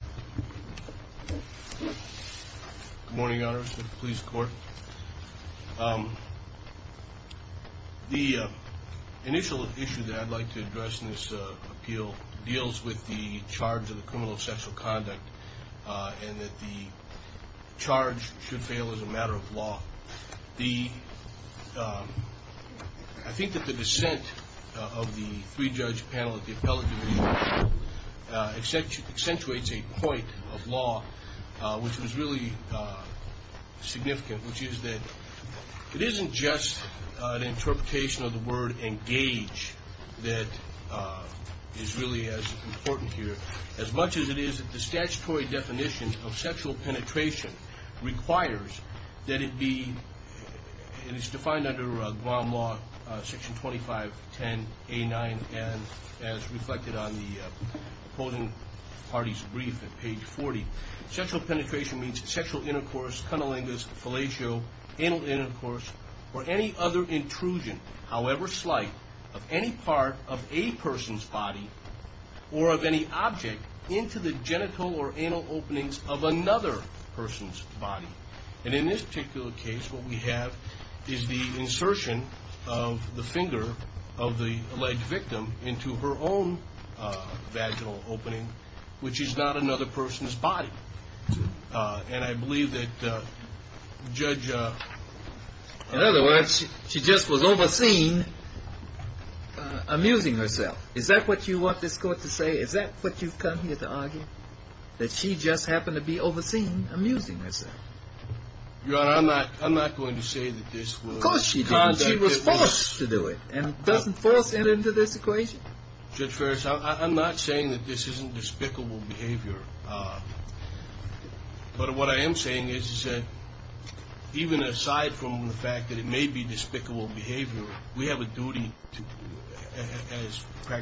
Good morning, Your Honor, Mr. Police Court. The initial issue that I'd like to address in this appeal deals with the charge of the criminal of sexual conduct and that the charge should fail as a matter of law. I think that the dissent of the three-judge panel at the point of law, which was really significant, which is that it isn't just an interpretation of the word engage that is really as important here as much as it is that the statutory definition of sexual penetration requires that it be, it is defined under Guam law, section 2510 and as reflected on the opposing party's brief at page 40, sexual penetration means sexual intercourse, cunnilingus, fellatio, anal intercourse, or any other intrusion, however slight, of any part of a person's body or of any object into the genital or anal openings of another person's body. And in this particular case, what we have is the insertion of the finger of the alleged victim into her own vaginal opening, which is not another person's body. And I believe that Judge... In other words, she just was overseen amusing herself. Is that what you want this court to say? Is that what you've come here to argue? That she just happened to be overseen amusing herself? Your Honor, I'm not going to say that this was... Of course she did. She was forced to do it. And doesn't force it into this equation? Judge Ferris, I'm not saying that this isn't despicable behavior. But what I am saying is that even aside from the fact that it may be despicable behavior, we have a duty to...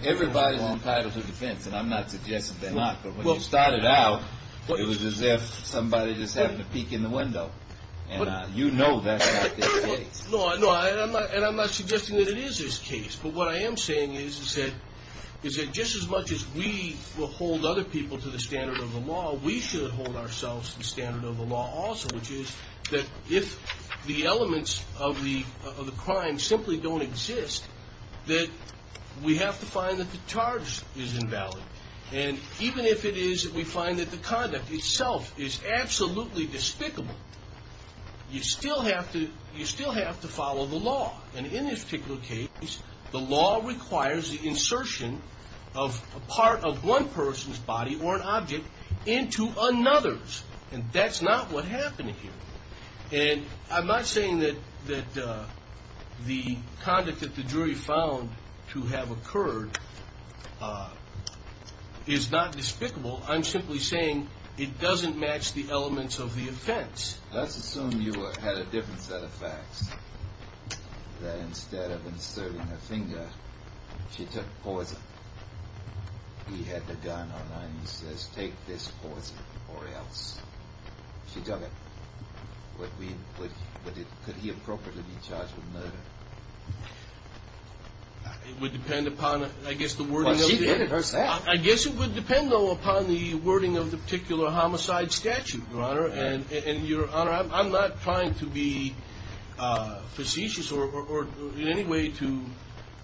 Everybody's entitled to defense, and I'm not suggesting they're not. But when you started out, it was as if somebody just happened to peek in the window. And you know that's not the case. No, and I'm not suggesting that it is this case. But what I am saying is that just as much as we will hold other people to the standard of the law, we should hold ourselves to the standard of the law also, which is that if the elements of the crime simply don't exist, that we have to find that the charge is invalid. And even if it is that we find that the conduct itself is absolutely despicable, you still have to follow the law. And in this particular case, the law requires the insertion of a part of one person's body or an object into another's. And that's not what happened here. And I'm not saying that the conduct that the jury found to have occurred is not despicable. I'm simply saying it is not. It doesn't match the elements of the offense. Let's assume you had a different set of facts, that instead of inserting a finger, she took poison. He had the gun on him. He says, take this poison or else. She took it. Could he appropriately be charged with murder? It would depend upon, I guess, the wording of the... Well, she did it herself. I guess it would depend, though, upon the wording of the particular homicide statute, Your Honor. And, Your Honor, I'm not trying to be facetious or in any way to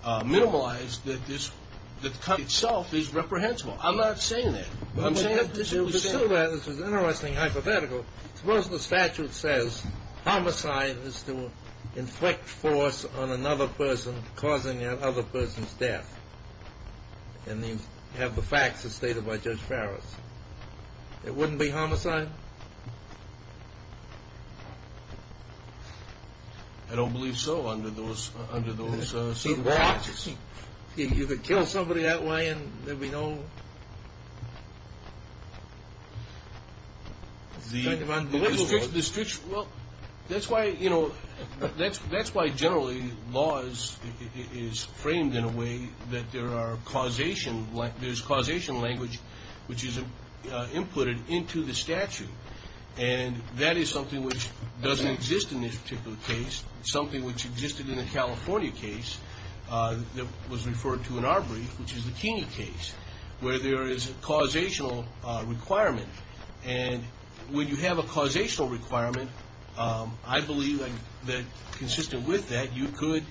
minimalize that this cut itself is reprehensible. I'm not saying that. But this is still an interesting hypothetical. Suppose the statute says homicide is to inflict force on another person, causing that other person's death. And the other person's have the facts as stated by Judge Farris. It wouldn't be homicide? I don't believe so under those circumstances. You could kill somebody that way and there'd be no... It's kind of unbelievable. That's why, generally, law is framed in a way that there are causation... There's causation language which is inputted into the statute. And that is something which doesn't exist in this particular case. Something which existed in the California case that was referred to in our brief, which is the Keeney case, where there is a causational requirement. And when you have a causational requirement, I believe that, consistent with that, you could,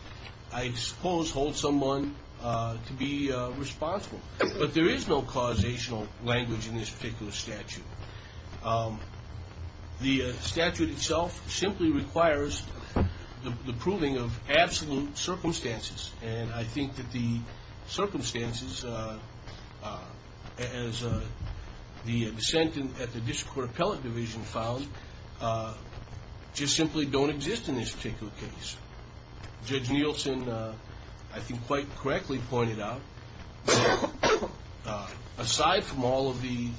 I suppose, hold someone to be responsible. But there is no causational language in this particular statute. The statute itself simply requires the proving of absolute circumstances. And I think that the circumstances, as the dissent at the District Court Appellate Division found, just simply don't exist in this particular case. Judge Nielsen, I think, quite correctly pointed out that aside from all of the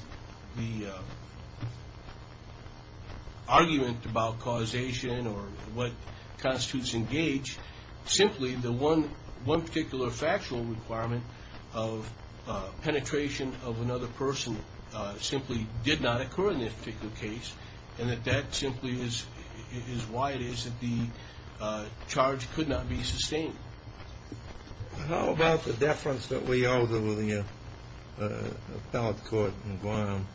argument about causation or what constitutes engage, simply the one particular factual requirement of penetration of another person simply did not occur in this particular case. And that that simply is why it is that the charge could not be sustained. How about the deference that we owe to the Appellate Court in Guam?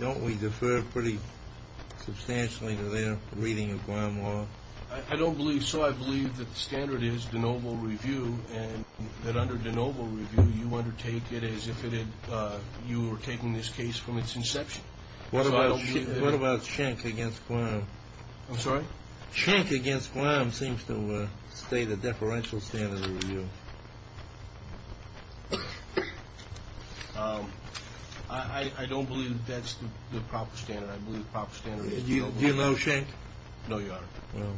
Don't we defer pretty substantially to their reading of Guam law? I don't believe so. I believe that the standard is de novo review and that under de novo review, you undertake it as if you were taking this case from its inception. What about Schenck against Guam? I'm sorry? Schenck against Guam seems to state a deferential standard of review. I don't believe that's the proper standard. I believe the proper standard is de novo.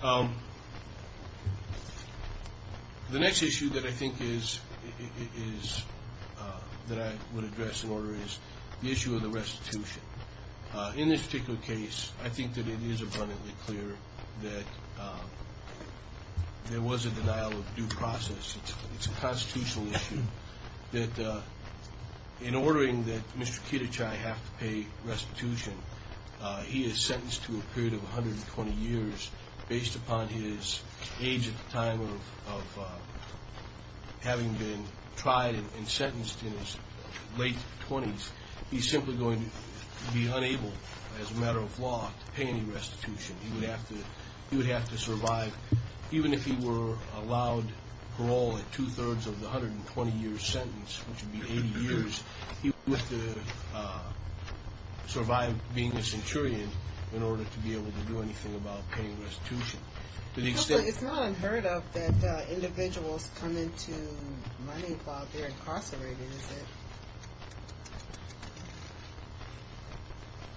The next issue that I think is that I would address in order is the issue of the restitution. In this particular case, I think that it is abundantly clear that there was a denial of due process. It's a constitutional issue that in ordering that Mr. Kitajai have to pay restitution, he is sentenced to a period of 120 years based upon his age at the time of having been tried and sentenced in his late 20s. He's simply going to be unable, as a matter of law, to pay any restitution. He would have to survive. Even if he were allowed parole at two-thirds of the 120-year sentence, which would be 80 years, he would have to survive being a centurion in order to be able to do anything about paying restitution. It's not unheard of that individuals come into money while they're incarcerated, is it?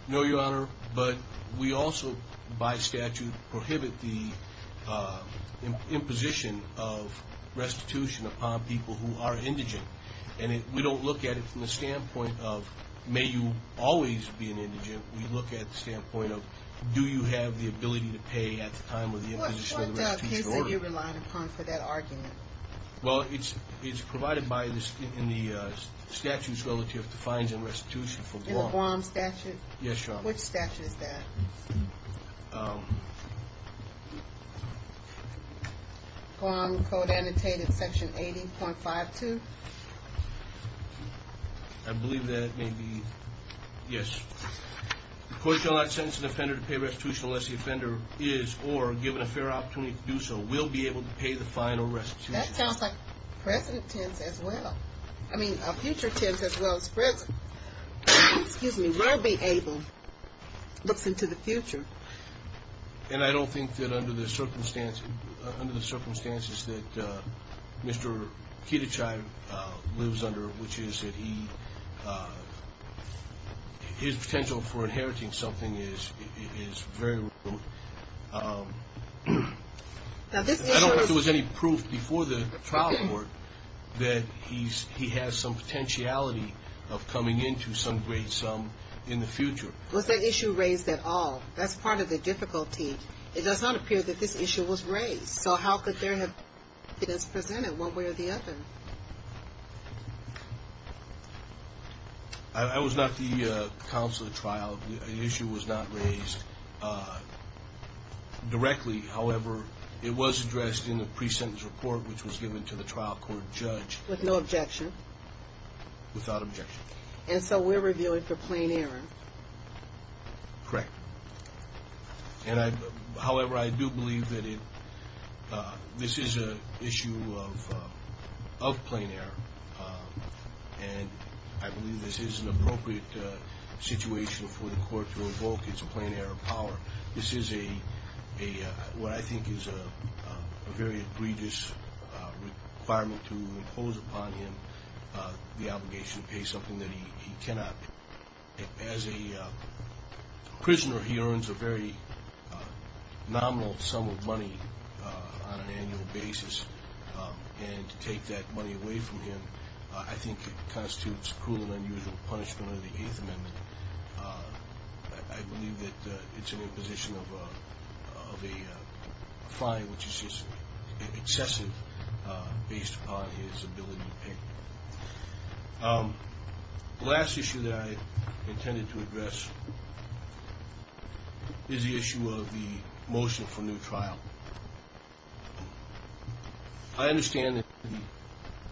No, Your Honor, but we also by statute prohibit the imposition of restitution upon people who are indigent. We don't look at it from the standpoint of may you always be an indigent. We look at the standpoint of do you have the ability to pay at the time of the imposition of the restitution order? What case are you relying upon for that argument? Well, it's provided in the statute relative to fines and restitution for Guam. In the Guam statute? Yes, Your Honor. Which statute is that? Guam Code Annotated Section 80.52? I believe that it may be, yes. The court shall not sentence an offender to pay restitution unless the offender is or given a fair opportunity to do so, will be able to pay the fine or restitution. That sounds like present tense as well. I mean, a future tense as well as present. Excuse me, will be able looks into the future. And I don't think that under the circumstances that Mr. Kitachai lives under, which is that he his potential for inheriting something is very low. I don't think there was any proof before the trial court that he has some potentiality of coming into some great sum in the future. Was that issue raised at all? That's part of the difficulty. It does not appear that this I was not the counsel of the trial. The issue was not raised directly. However, it was addressed in the pre-sentence report, which was given to the trial court judge. With no objection? Without objection. And so we're reviewing for plain error? Correct. However, I do believe that this is an issue of plain error. And I believe this is an appropriate situation for the court to evoke. It's a plain error of power. This is a very egregious requirement to impose upon him the obligation to pay something that he cannot pay. As a prisoner, he earns a very nominal sum of money on an annual basis. And to take that money away from him, I think it constitutes cruel and unusual punishment under the Eighth Amendment. I believe that it's an imposition of a fine which is just excessive based upon his ability to pay. The last issue that I intended to address is the issue of the motion for new trial. I understand that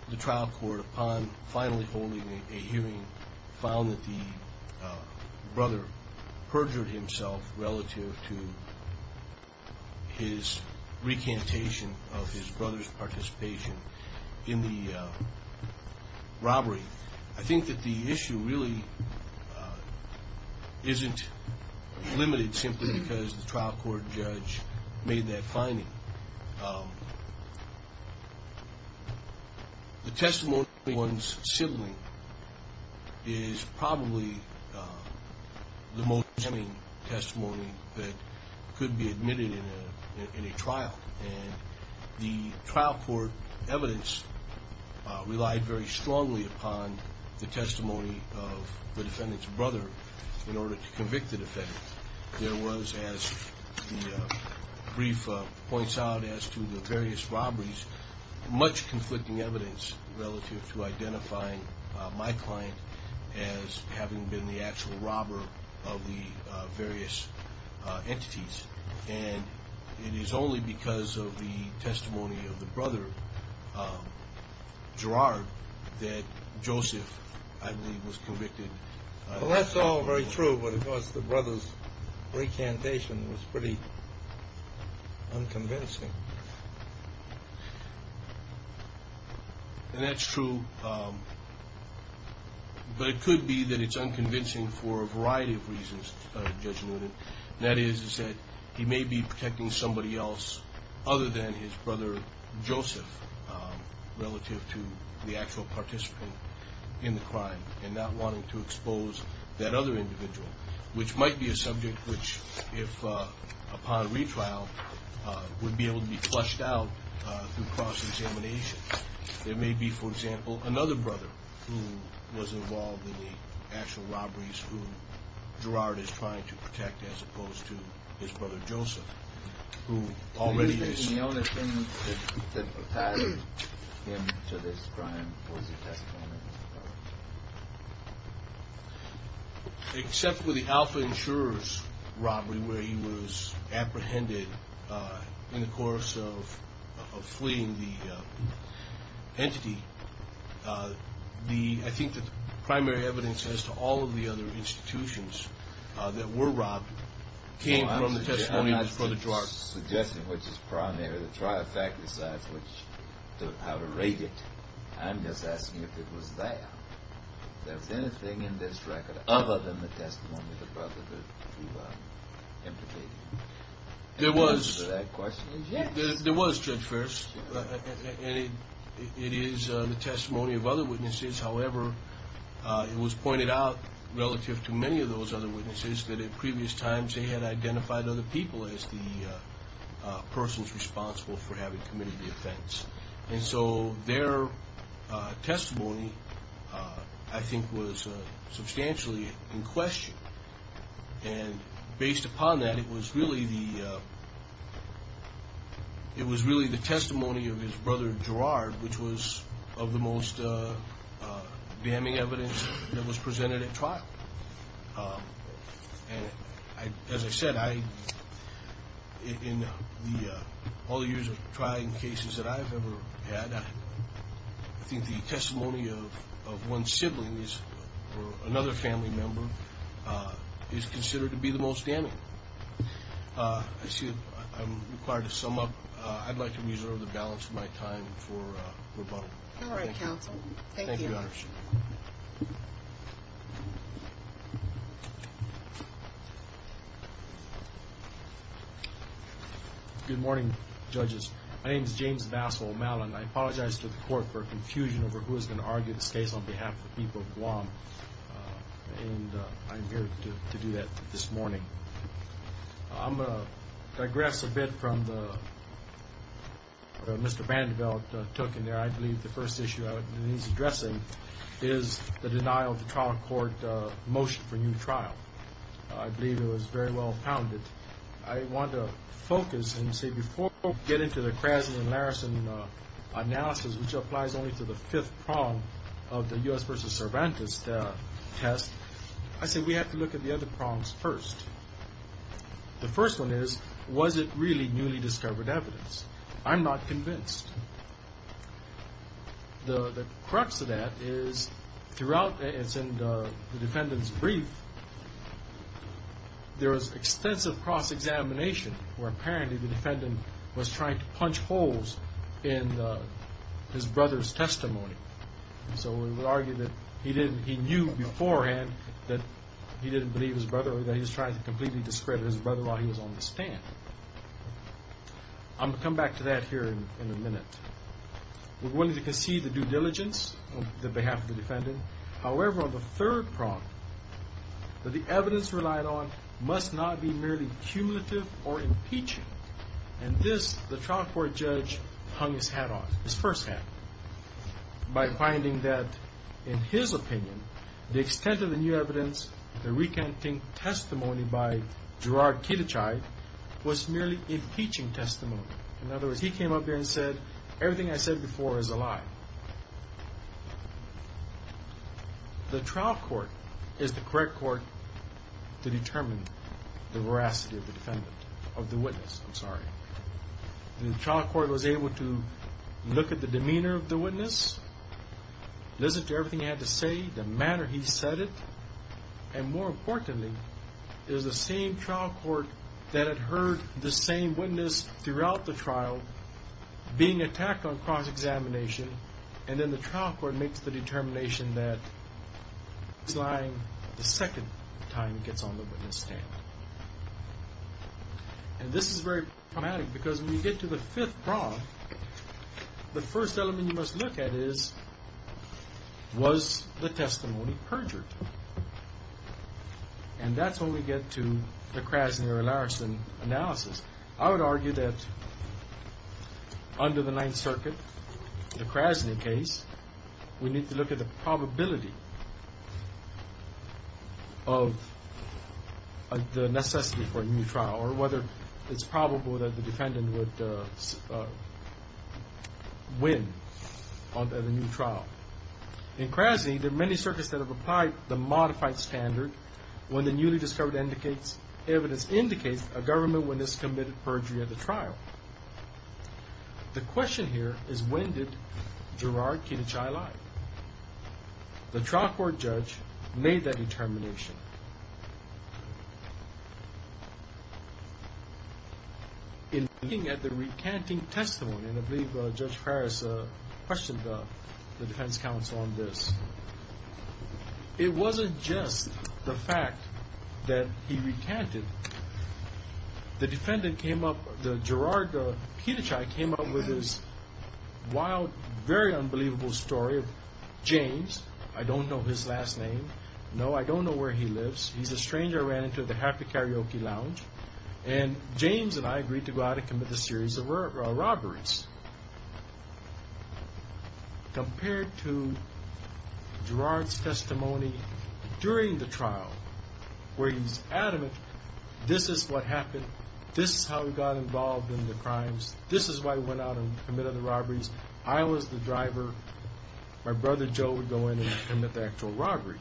the trial court, upon finally holding a hearing, found that the brother perjured himself relative to his recantation of his brother's participation in the robbery. I think that the issue really isn't limited simply because the trial court judge made that finding. The testimony of one's sibling is probably the most tempting testimony that could be admitted in a trial. And the trial court evidence relied very strongly upon the testimony of the defendant's brother in order to convict the defendant. There was, as the brief points out, as to the various robberies, much conflicting evidence relative to identifying my client as having been the actual robber of the various entities. And it is only because of the testimony of the brother, Gerard, that Joseph, I believe, was convicted. That's all very true, but it was the brother's recantation was pretty unconvincing. And that's true, but it could be that it's unconvincing for a variety of reasons, Judge Noonan. And that is that he may be protecting somebody else other than his brother, Joseph, relative to the actual participant in the crime and not wanting to expose that other person would be able to be flushed out through cross-examination. There may be, for example, another brother who was involved in the actual robberies who Gerard is trying to protect as opposed to his brother, Joseph, who already is. Except for the in the course of fleeing the entity, I think that the primary evidence as to all of the other institutions that were robbed came from the testimony of his brother, Gerard. I'm not suggesting which is primary. The trial fact decides how to rate it. I'm just asking if it was there. If there was anything in this record other than the testimony of other witnesses, however, it was pointed out relative to many of those other witnesses that at previous times they had identified other people as the persons responsible for having committed the offense. And so their testimony, I think, was substantially in question. And based upon that, it was really the testimony of his brother, Gerard, which was of the most damning evidence that was presented at trial. As I said, in all the years of trying cases that I've ever had, I think the testimony of one's siblings or another family member is considered to be the most damning. I see that I'm required to sum up. I'd like to reserve the balance of my time for rebuttal. Thank you, Your Honor. Good morning, judges. My name is James Vassal-Mallin. I apologize to the Court for confusion over who is going to argue this case on behalf of the people of Guam, and I'm here to do that this morning. I'm going to digress a bit from the Mr. Vanderbilt took in there. I believe the first issue he's addressing is the denial of the trial court motion for new trial. I believe it was very well pounded. I want to focus and say before we get into the Krasny and Larrison analysis, which applies only to the fifth prong of the U.S. v. Cervantes test, I say we have to look at the other prongs first. The first one is, was it really newly discovered evidence? I'm not convinced. The crux of that is, throughout the defendant's brief, there was extensive cross-examination where apparently the defendant was trying to punch holes in his brother's testimony. So we would argue that he knew beforehand that he didn't believe his brother or that he was trying to completely discredit his brother while he was on the stand. I'm going to come back to that here in a minute. We wanted to concede the due diligence on behalf of the defendant. However, on the third prong, that the evidence relied on must not be merely cumulative or impeaching. And this, the trial court judge hung his hat on, his first hat, by finding that, in his opinion, the extent of the new evidence, the recanting testimony by Gerard Kittichai, was merely impeaching testimony. In other words, he came up there and said, everything I said before is a lie. The trial court is the correct court to determine the veracity of the witness. The trial court was able to look at the demeanor of the witness, listen to everything he had to say, the manner he said it, and more importantly, it was the same trial court that had heard the same witness throughout the trial being attacked on cross-examination, and then the trial court makes the determination that he's lying the second time he gets on the witness stand. And this is very problematic, because when you get to the fifth prong, the first element you must look at is, was the testimony perjured? And that's when we get to the Krasny or Larson analysis. I would argue that under the Ninth Circuit, the Krasny case, we need to look at the probability of the necessity for a new trial, or whether it's probable that the defendant would win at a new trial. In Krasny, there are many circuits that have applied the modified standard when the newly discovered evidence indicates a government witness committed perjury at the trial. The question here is, when did Gerard Kitajai lie? The trial court judge made that determination. In looking at the recanting testimony, and I believe Judge Farris questioned the defense counsel on this, it wasn't just the fact that he recanted. The defendant came up, Gerard Kitajai came up with this wild, very unbelievable story of James. I don't know his last name. No, I don't know where he lives. He's a stranger I ran into at the Happy Karaoke Lounge. And James and I agreed to go out and commit a series of robberies. Compared to Gerard's testimony during the trial, where he's adamant, this is what happened, this is how he got involved in the crimes, this is why he went out and committed the robberies. I was the driver. My brother Joe would go in and commit the actual robbery.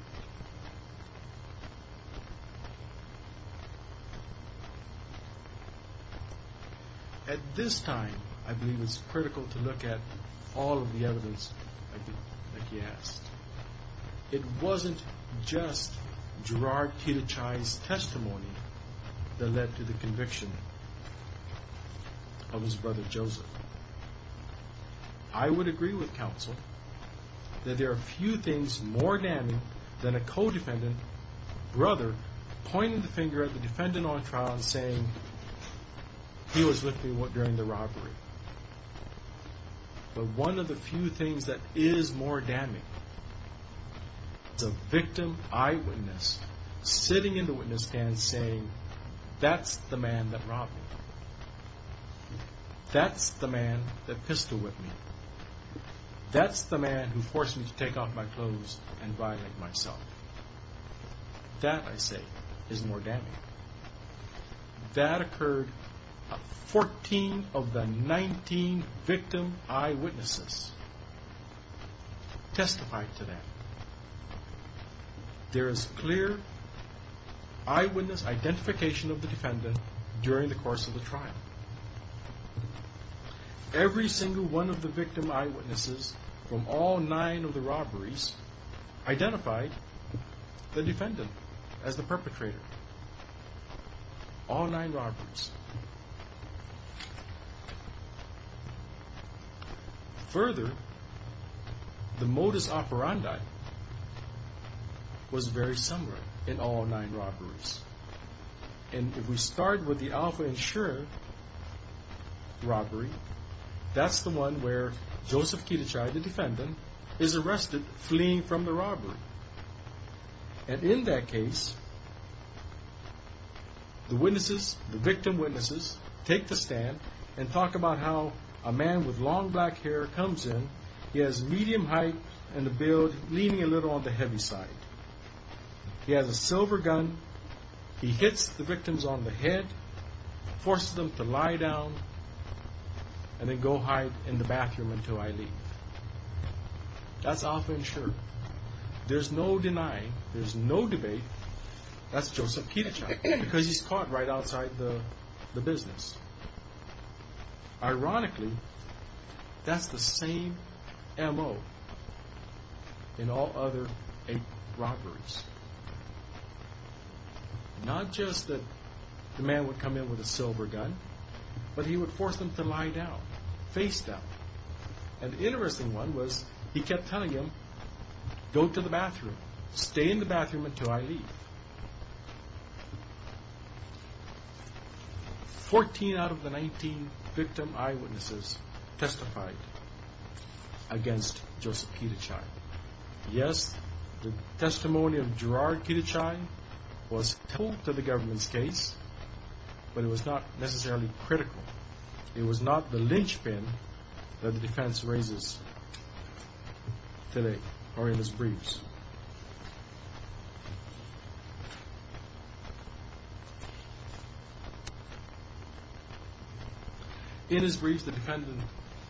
At this time, I believe it's critical to look at all of the evidence that he has. It wasn't just Gerard Kitajai's conviction of his brother Joseph. I would agree with counsel that there are few things more damning than a co-defendant brother pointing the finger at the defendant on trial and saying he was with me during the robbery. But one of the few things that is more damning is a victim eyewitness sitting in the witness stand saying, that's the man that robbed me. That's the man that pissed with me. That's the man who forced me to take off my clothes and violate myself. That, I say, is more damning. That occurred to 14 of the 19 victim eyewitnesses who testified to that. There is clear eyewitness identification of the defendant during the course of the trial. Every single one of the victim eyewitnesses from all nine of the robberies identified the defendant as the perpetrator. All nine robberies. Further, the modus operandi was very similar in all nine robberies. And if we start with the Alpha Ensure robbery, that's the one where Joseph Kitajai, and in that case, the witnesses, the victim witnesses, take the stand and talk about how a man with long black hair comes in. He has medium height and a build leaning a little on the heavy side. He has a silver gun. He hits the victims on the head, forces them to lie down, and then go hide in the bathroom until I leave. That's Alpha Ensure. There's no denying, there's no debate, that's Joseph Kitajai, because he's caught right outside the business. Ironically, that's the same MO in all other eight robberies. Not just that the man would come in with a silver gun, but he would force them to lie down, face down. And the interesting one was, he kept telling them, go to the bathroom, stay in the bathroom until I leave. Fourteen out of the nineteen victim eyewitnesses testified against Joseph Kitajai. Yes, the testimony of Gerard Kitajai was told to the government's case, but it was not necessarily critical. It was not the lynchpin that the defense raises today, or in his briefs. In his briefs, the defendant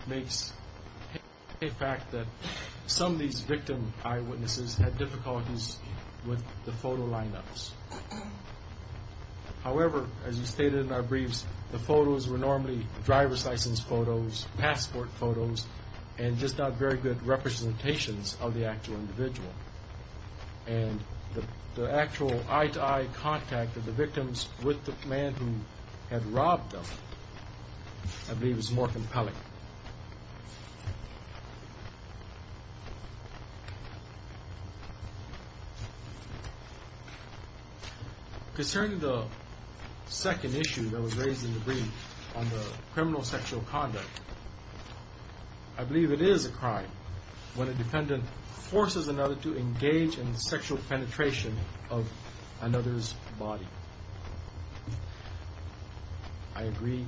makes a fact that some of these victim eyewitnesses had difficulties with the photo lineups. However, as he stated in our briefs, the photos were normally driver's license photos, passport photos, and just not very good representations of the actual individual. The actual eye-to-eye contact of the victims with the man who had robbed them I believe is more compelling. Concerning the second issue that was raised in the brief on the criminal sexual conduct, I believe it is a crime when a defendant forces another to engage in sexual penetration of another's body. I agree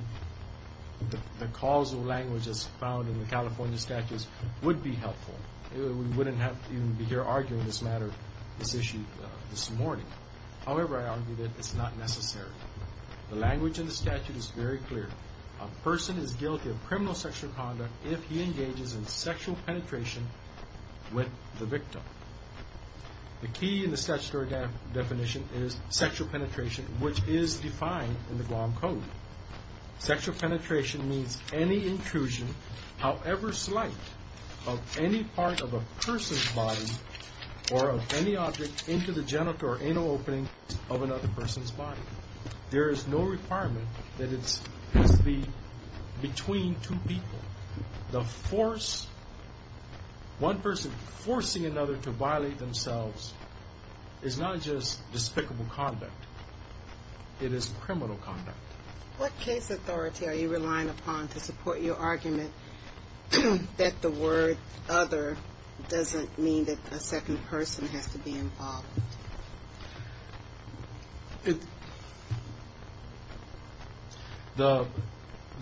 that the causal language as found in the California statutes would be helpful. We wouldn't have to even be here arguing this matter, this issue, this morning. However, I argue that it's not necessary. The language in the statute is very clear. A person is guilty of criminal sexual conduct if he engages in sexual penetration with the victim. The key in the statutory definition is sexual penetration, which is defined in the Guam Code. Sexual penetration means any intrusion, however slight, of any part of a person's body or of any object into the genital or anal opening of another person's body. There is no requirement that it's between two people. One person forcing another to violate themselves is not just despicable conduct. It is criminal conduct. What case authority are you relying upon to support your argument that the word other doesn't mean that a second person has to be involved?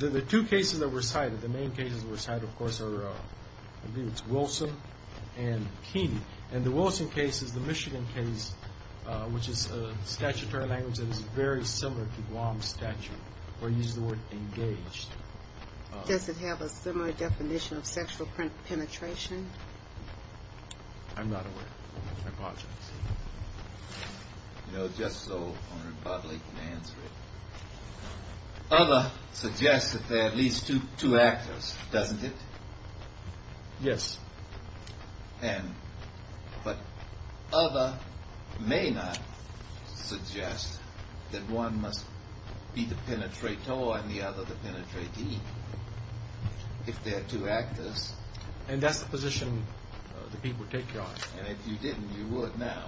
The two cases that were cited, the main cases that were cited, of course, are Wilson and Keeney. And the Wilson case is the Michigan case, which is a statutory language that is very similar to Guam's statute, where you use the word engaged. Does it have a similar definition of sexual penetration? I'm not aware. I apologize. You know, just so Arnold Budley can answer it. Other suggests that there are at least two actors, doesn't it? Yes. But other may not suggest that one must be the penetrator and the other the penetratee, if there are two actors. And that's the position the people take, Your Honor. And if you didn't, you would now.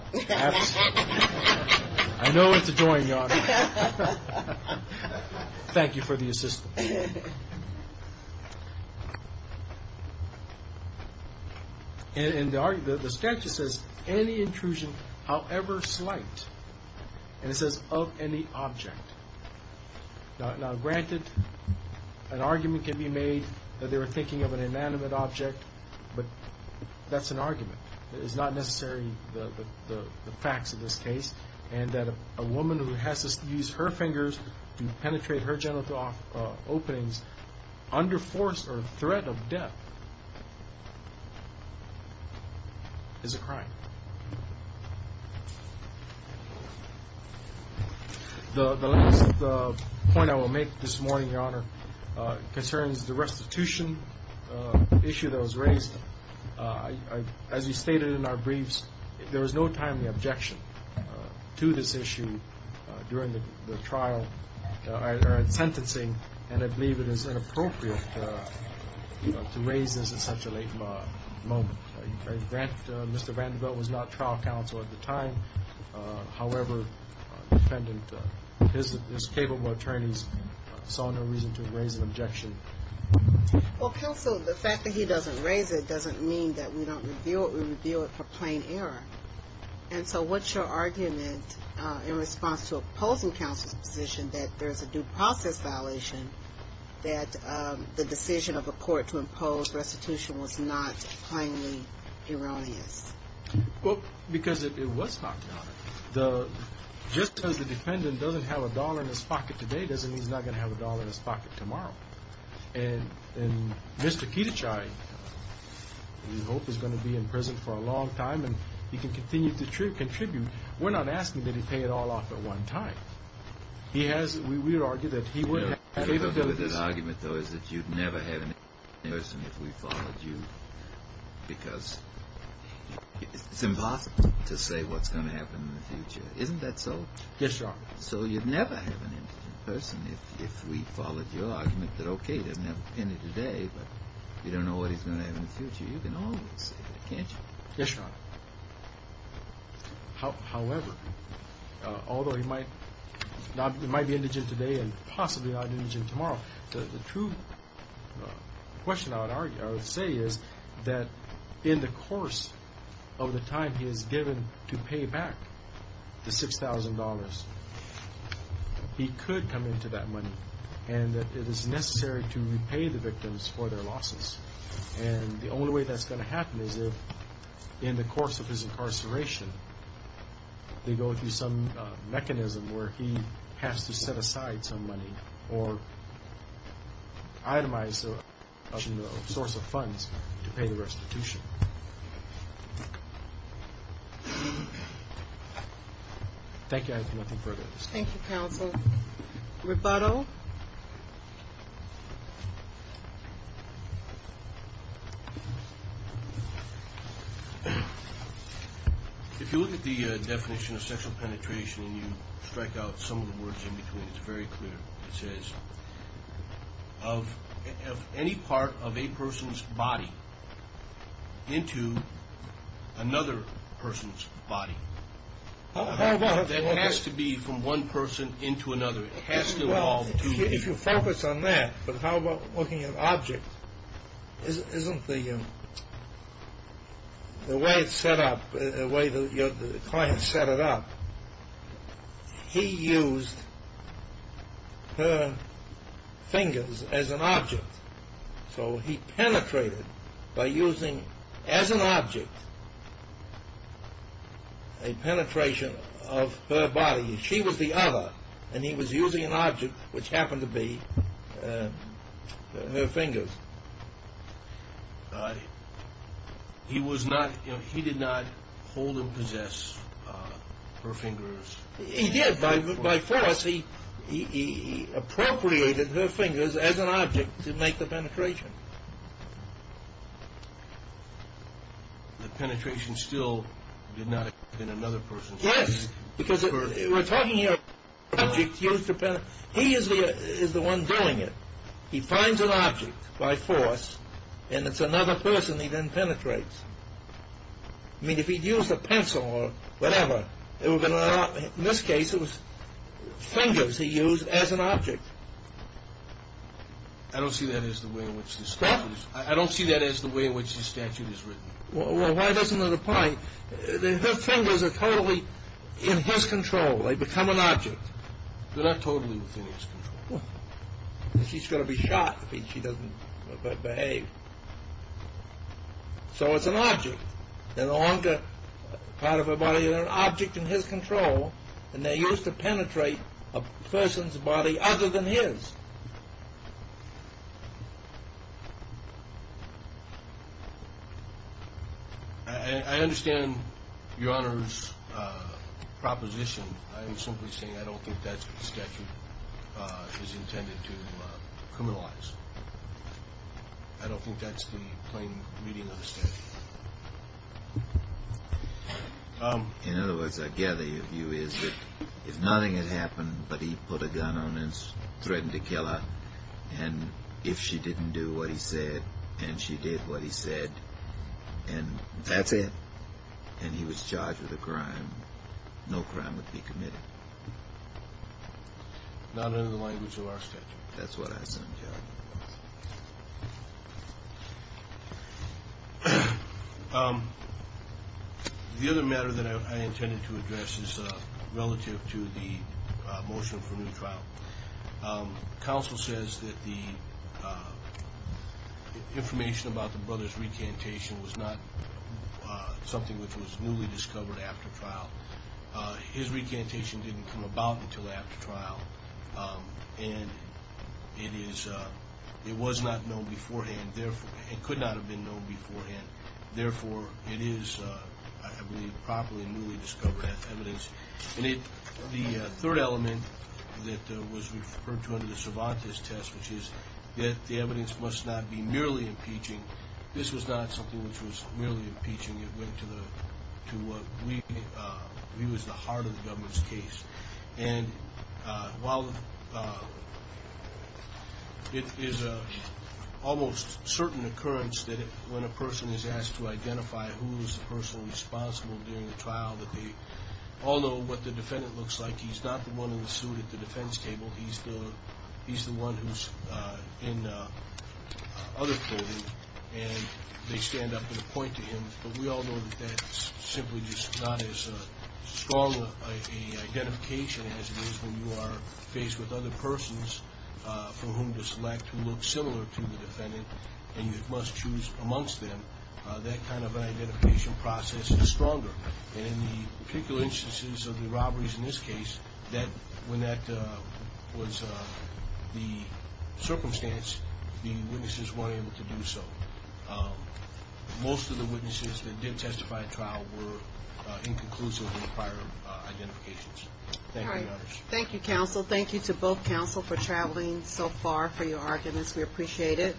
Thank you for the assistance. And the statute says any intrusion, however slight. And it says of any object. Now, granted, an argument can be made that they were thinking of an inanimate object. But that's an argument. It is not necessarily the facts of this case and that a woman who has to use her fingers to penetrate her genital openings under force or threat of death is a crime. The last point I will make this morning, Your Honor, concerns the restitution issue that was raised. As we stated in our briefs, there was no timely objection to this issue during the trial or in sentencing. And I believe it is inappropriate to raise this at such a late moment. Mr. Vanderbilt was not trial counsel at the time. However, defendant, his capable attorneys saw no reason to raise an objection. Well, counsel, the fact that he doesn't raise it doesn't mean that we don't reveal it. We reveal it for plain error. And so what's your argument in response to opposing counsel's position that there's a due process violation, that the decision of a court to impose restitution was not plainly erroneous? Well, because it was not, Your Honor. Just because the defendant doesn't have a dollar in his pocket today doesn't mean he's not going to have a dollar in his pocket tomorrow. And Mr. Kedichai, we hope, is going to be in prison for a long time and he can continue to pay it all off at one time. He has, we would argue, that he would have favorability No. The argument, though, is that you'd never have an indigent person if we followed you because it's impossible to say what's going to happen in the future. Isn't that so? Yes, Your Honor. So you'd never have an indigent person if we followed your argument that, okay, there's no penny today, but you don't know what he's going to have in the future. You can always say that, can't you? Yes, Your Honor. However, although he might be indigent today and possibly not indigent tomorrow, the true question I would say is that in the course of the time he is given to pay back the $6,000, he could come into that money and that it is necessary to repay the victims for their losses. And the only way that's going to happen is if, in the course of his incarceration, they go through some mechanism where he has to set aside some money or itemize a source of funds to pay the restitution. Thank you. I have nothing further. Thank you, counsel. Rebuttal? If you look at the definition of sexual penetration and you strike out some of the words in between, it's very clear. It says of any part of a person's body into another person's body. That has to be from one person into another. It has to involve two people. If you focus on that, but how about looking at objects? Isn't the way it's set up, the way the client set it up, he used her fingers as an object. So he penetrated by using, as an object, a penetration of her body. She was the other, and he was using an object, which happened to be her fingers. He did not hold and possess her fingers. He did. By force, he appropriated her fingers as an object to make the penetration. The penetration still did not occur in another person's body. Yes, because we're talking here about objects used to penetrate. He is the one doing it. He finds an object by force, and it's another person he then penetrates. I mean, if he'd used a pencil or whatever, in this case it was fingers he used as an object. I don't see that as the way in which the statute is written. Well, why doesn't it apply? Her fingers are totally in his control. They become an object. They're not totally within his control. She's going to be shot if she doesn't behave. So it's an object. They're no longer part of her body. They're an object in his control, and they're used to penetrate a person's body other than his. I understand Your Honor's proposition. I'm simply saying I don't think that statute is intended to criminalize. I don't think that's the plain meaning of the statute. In other words, I gather your view is that if nothing had happened but he put a gun on her and threatened to kill her, and if she didn't do what he said and she did what he said, and that's it, and he was charged with a crime, no crime would be committed. Not under the language of our statute. That's what I said, Your Honor. The other matter that I intended to address is relative to the motion for new trial. Counsel says that the information about the brother's recantation was not something which was newly discovered after trial. His recantation didn't come about until after trial, and it was not known beforehand, and could not have been known beforehand. Therefore, it is, I believe, properly newly discovered evidence. The third element that was referred to under the Cervantes test, which is that the evidence must not be merely impeaching. This was not something which was merely impeaching. It went to what we believe is the heart of the government's case. And while it is an almost certain occurrence that when a person is asked to identify who is the person responsible during the trial that they all know what the defendant looks like. He's not the one in the suit at the defense table. He's the one who's in other clothing, and they stand up and point to him, but we all know that that's simply just not as strong an identification as it is when you are faced with other persons for whom to select who look similar to the defendant, and you must choose amongst them. That kind of an identification process is stronger. And in the particular instances of the robberies in this case, when that was the circumstance, the witnesses weren't able to do so. Most of the witnesses that did testify at trial were inconclusive of prior identifications. Thank you, Your Honors. Thank you, counsel. Thank you to both counsel for traveling so far for your arguments. We appreciate it.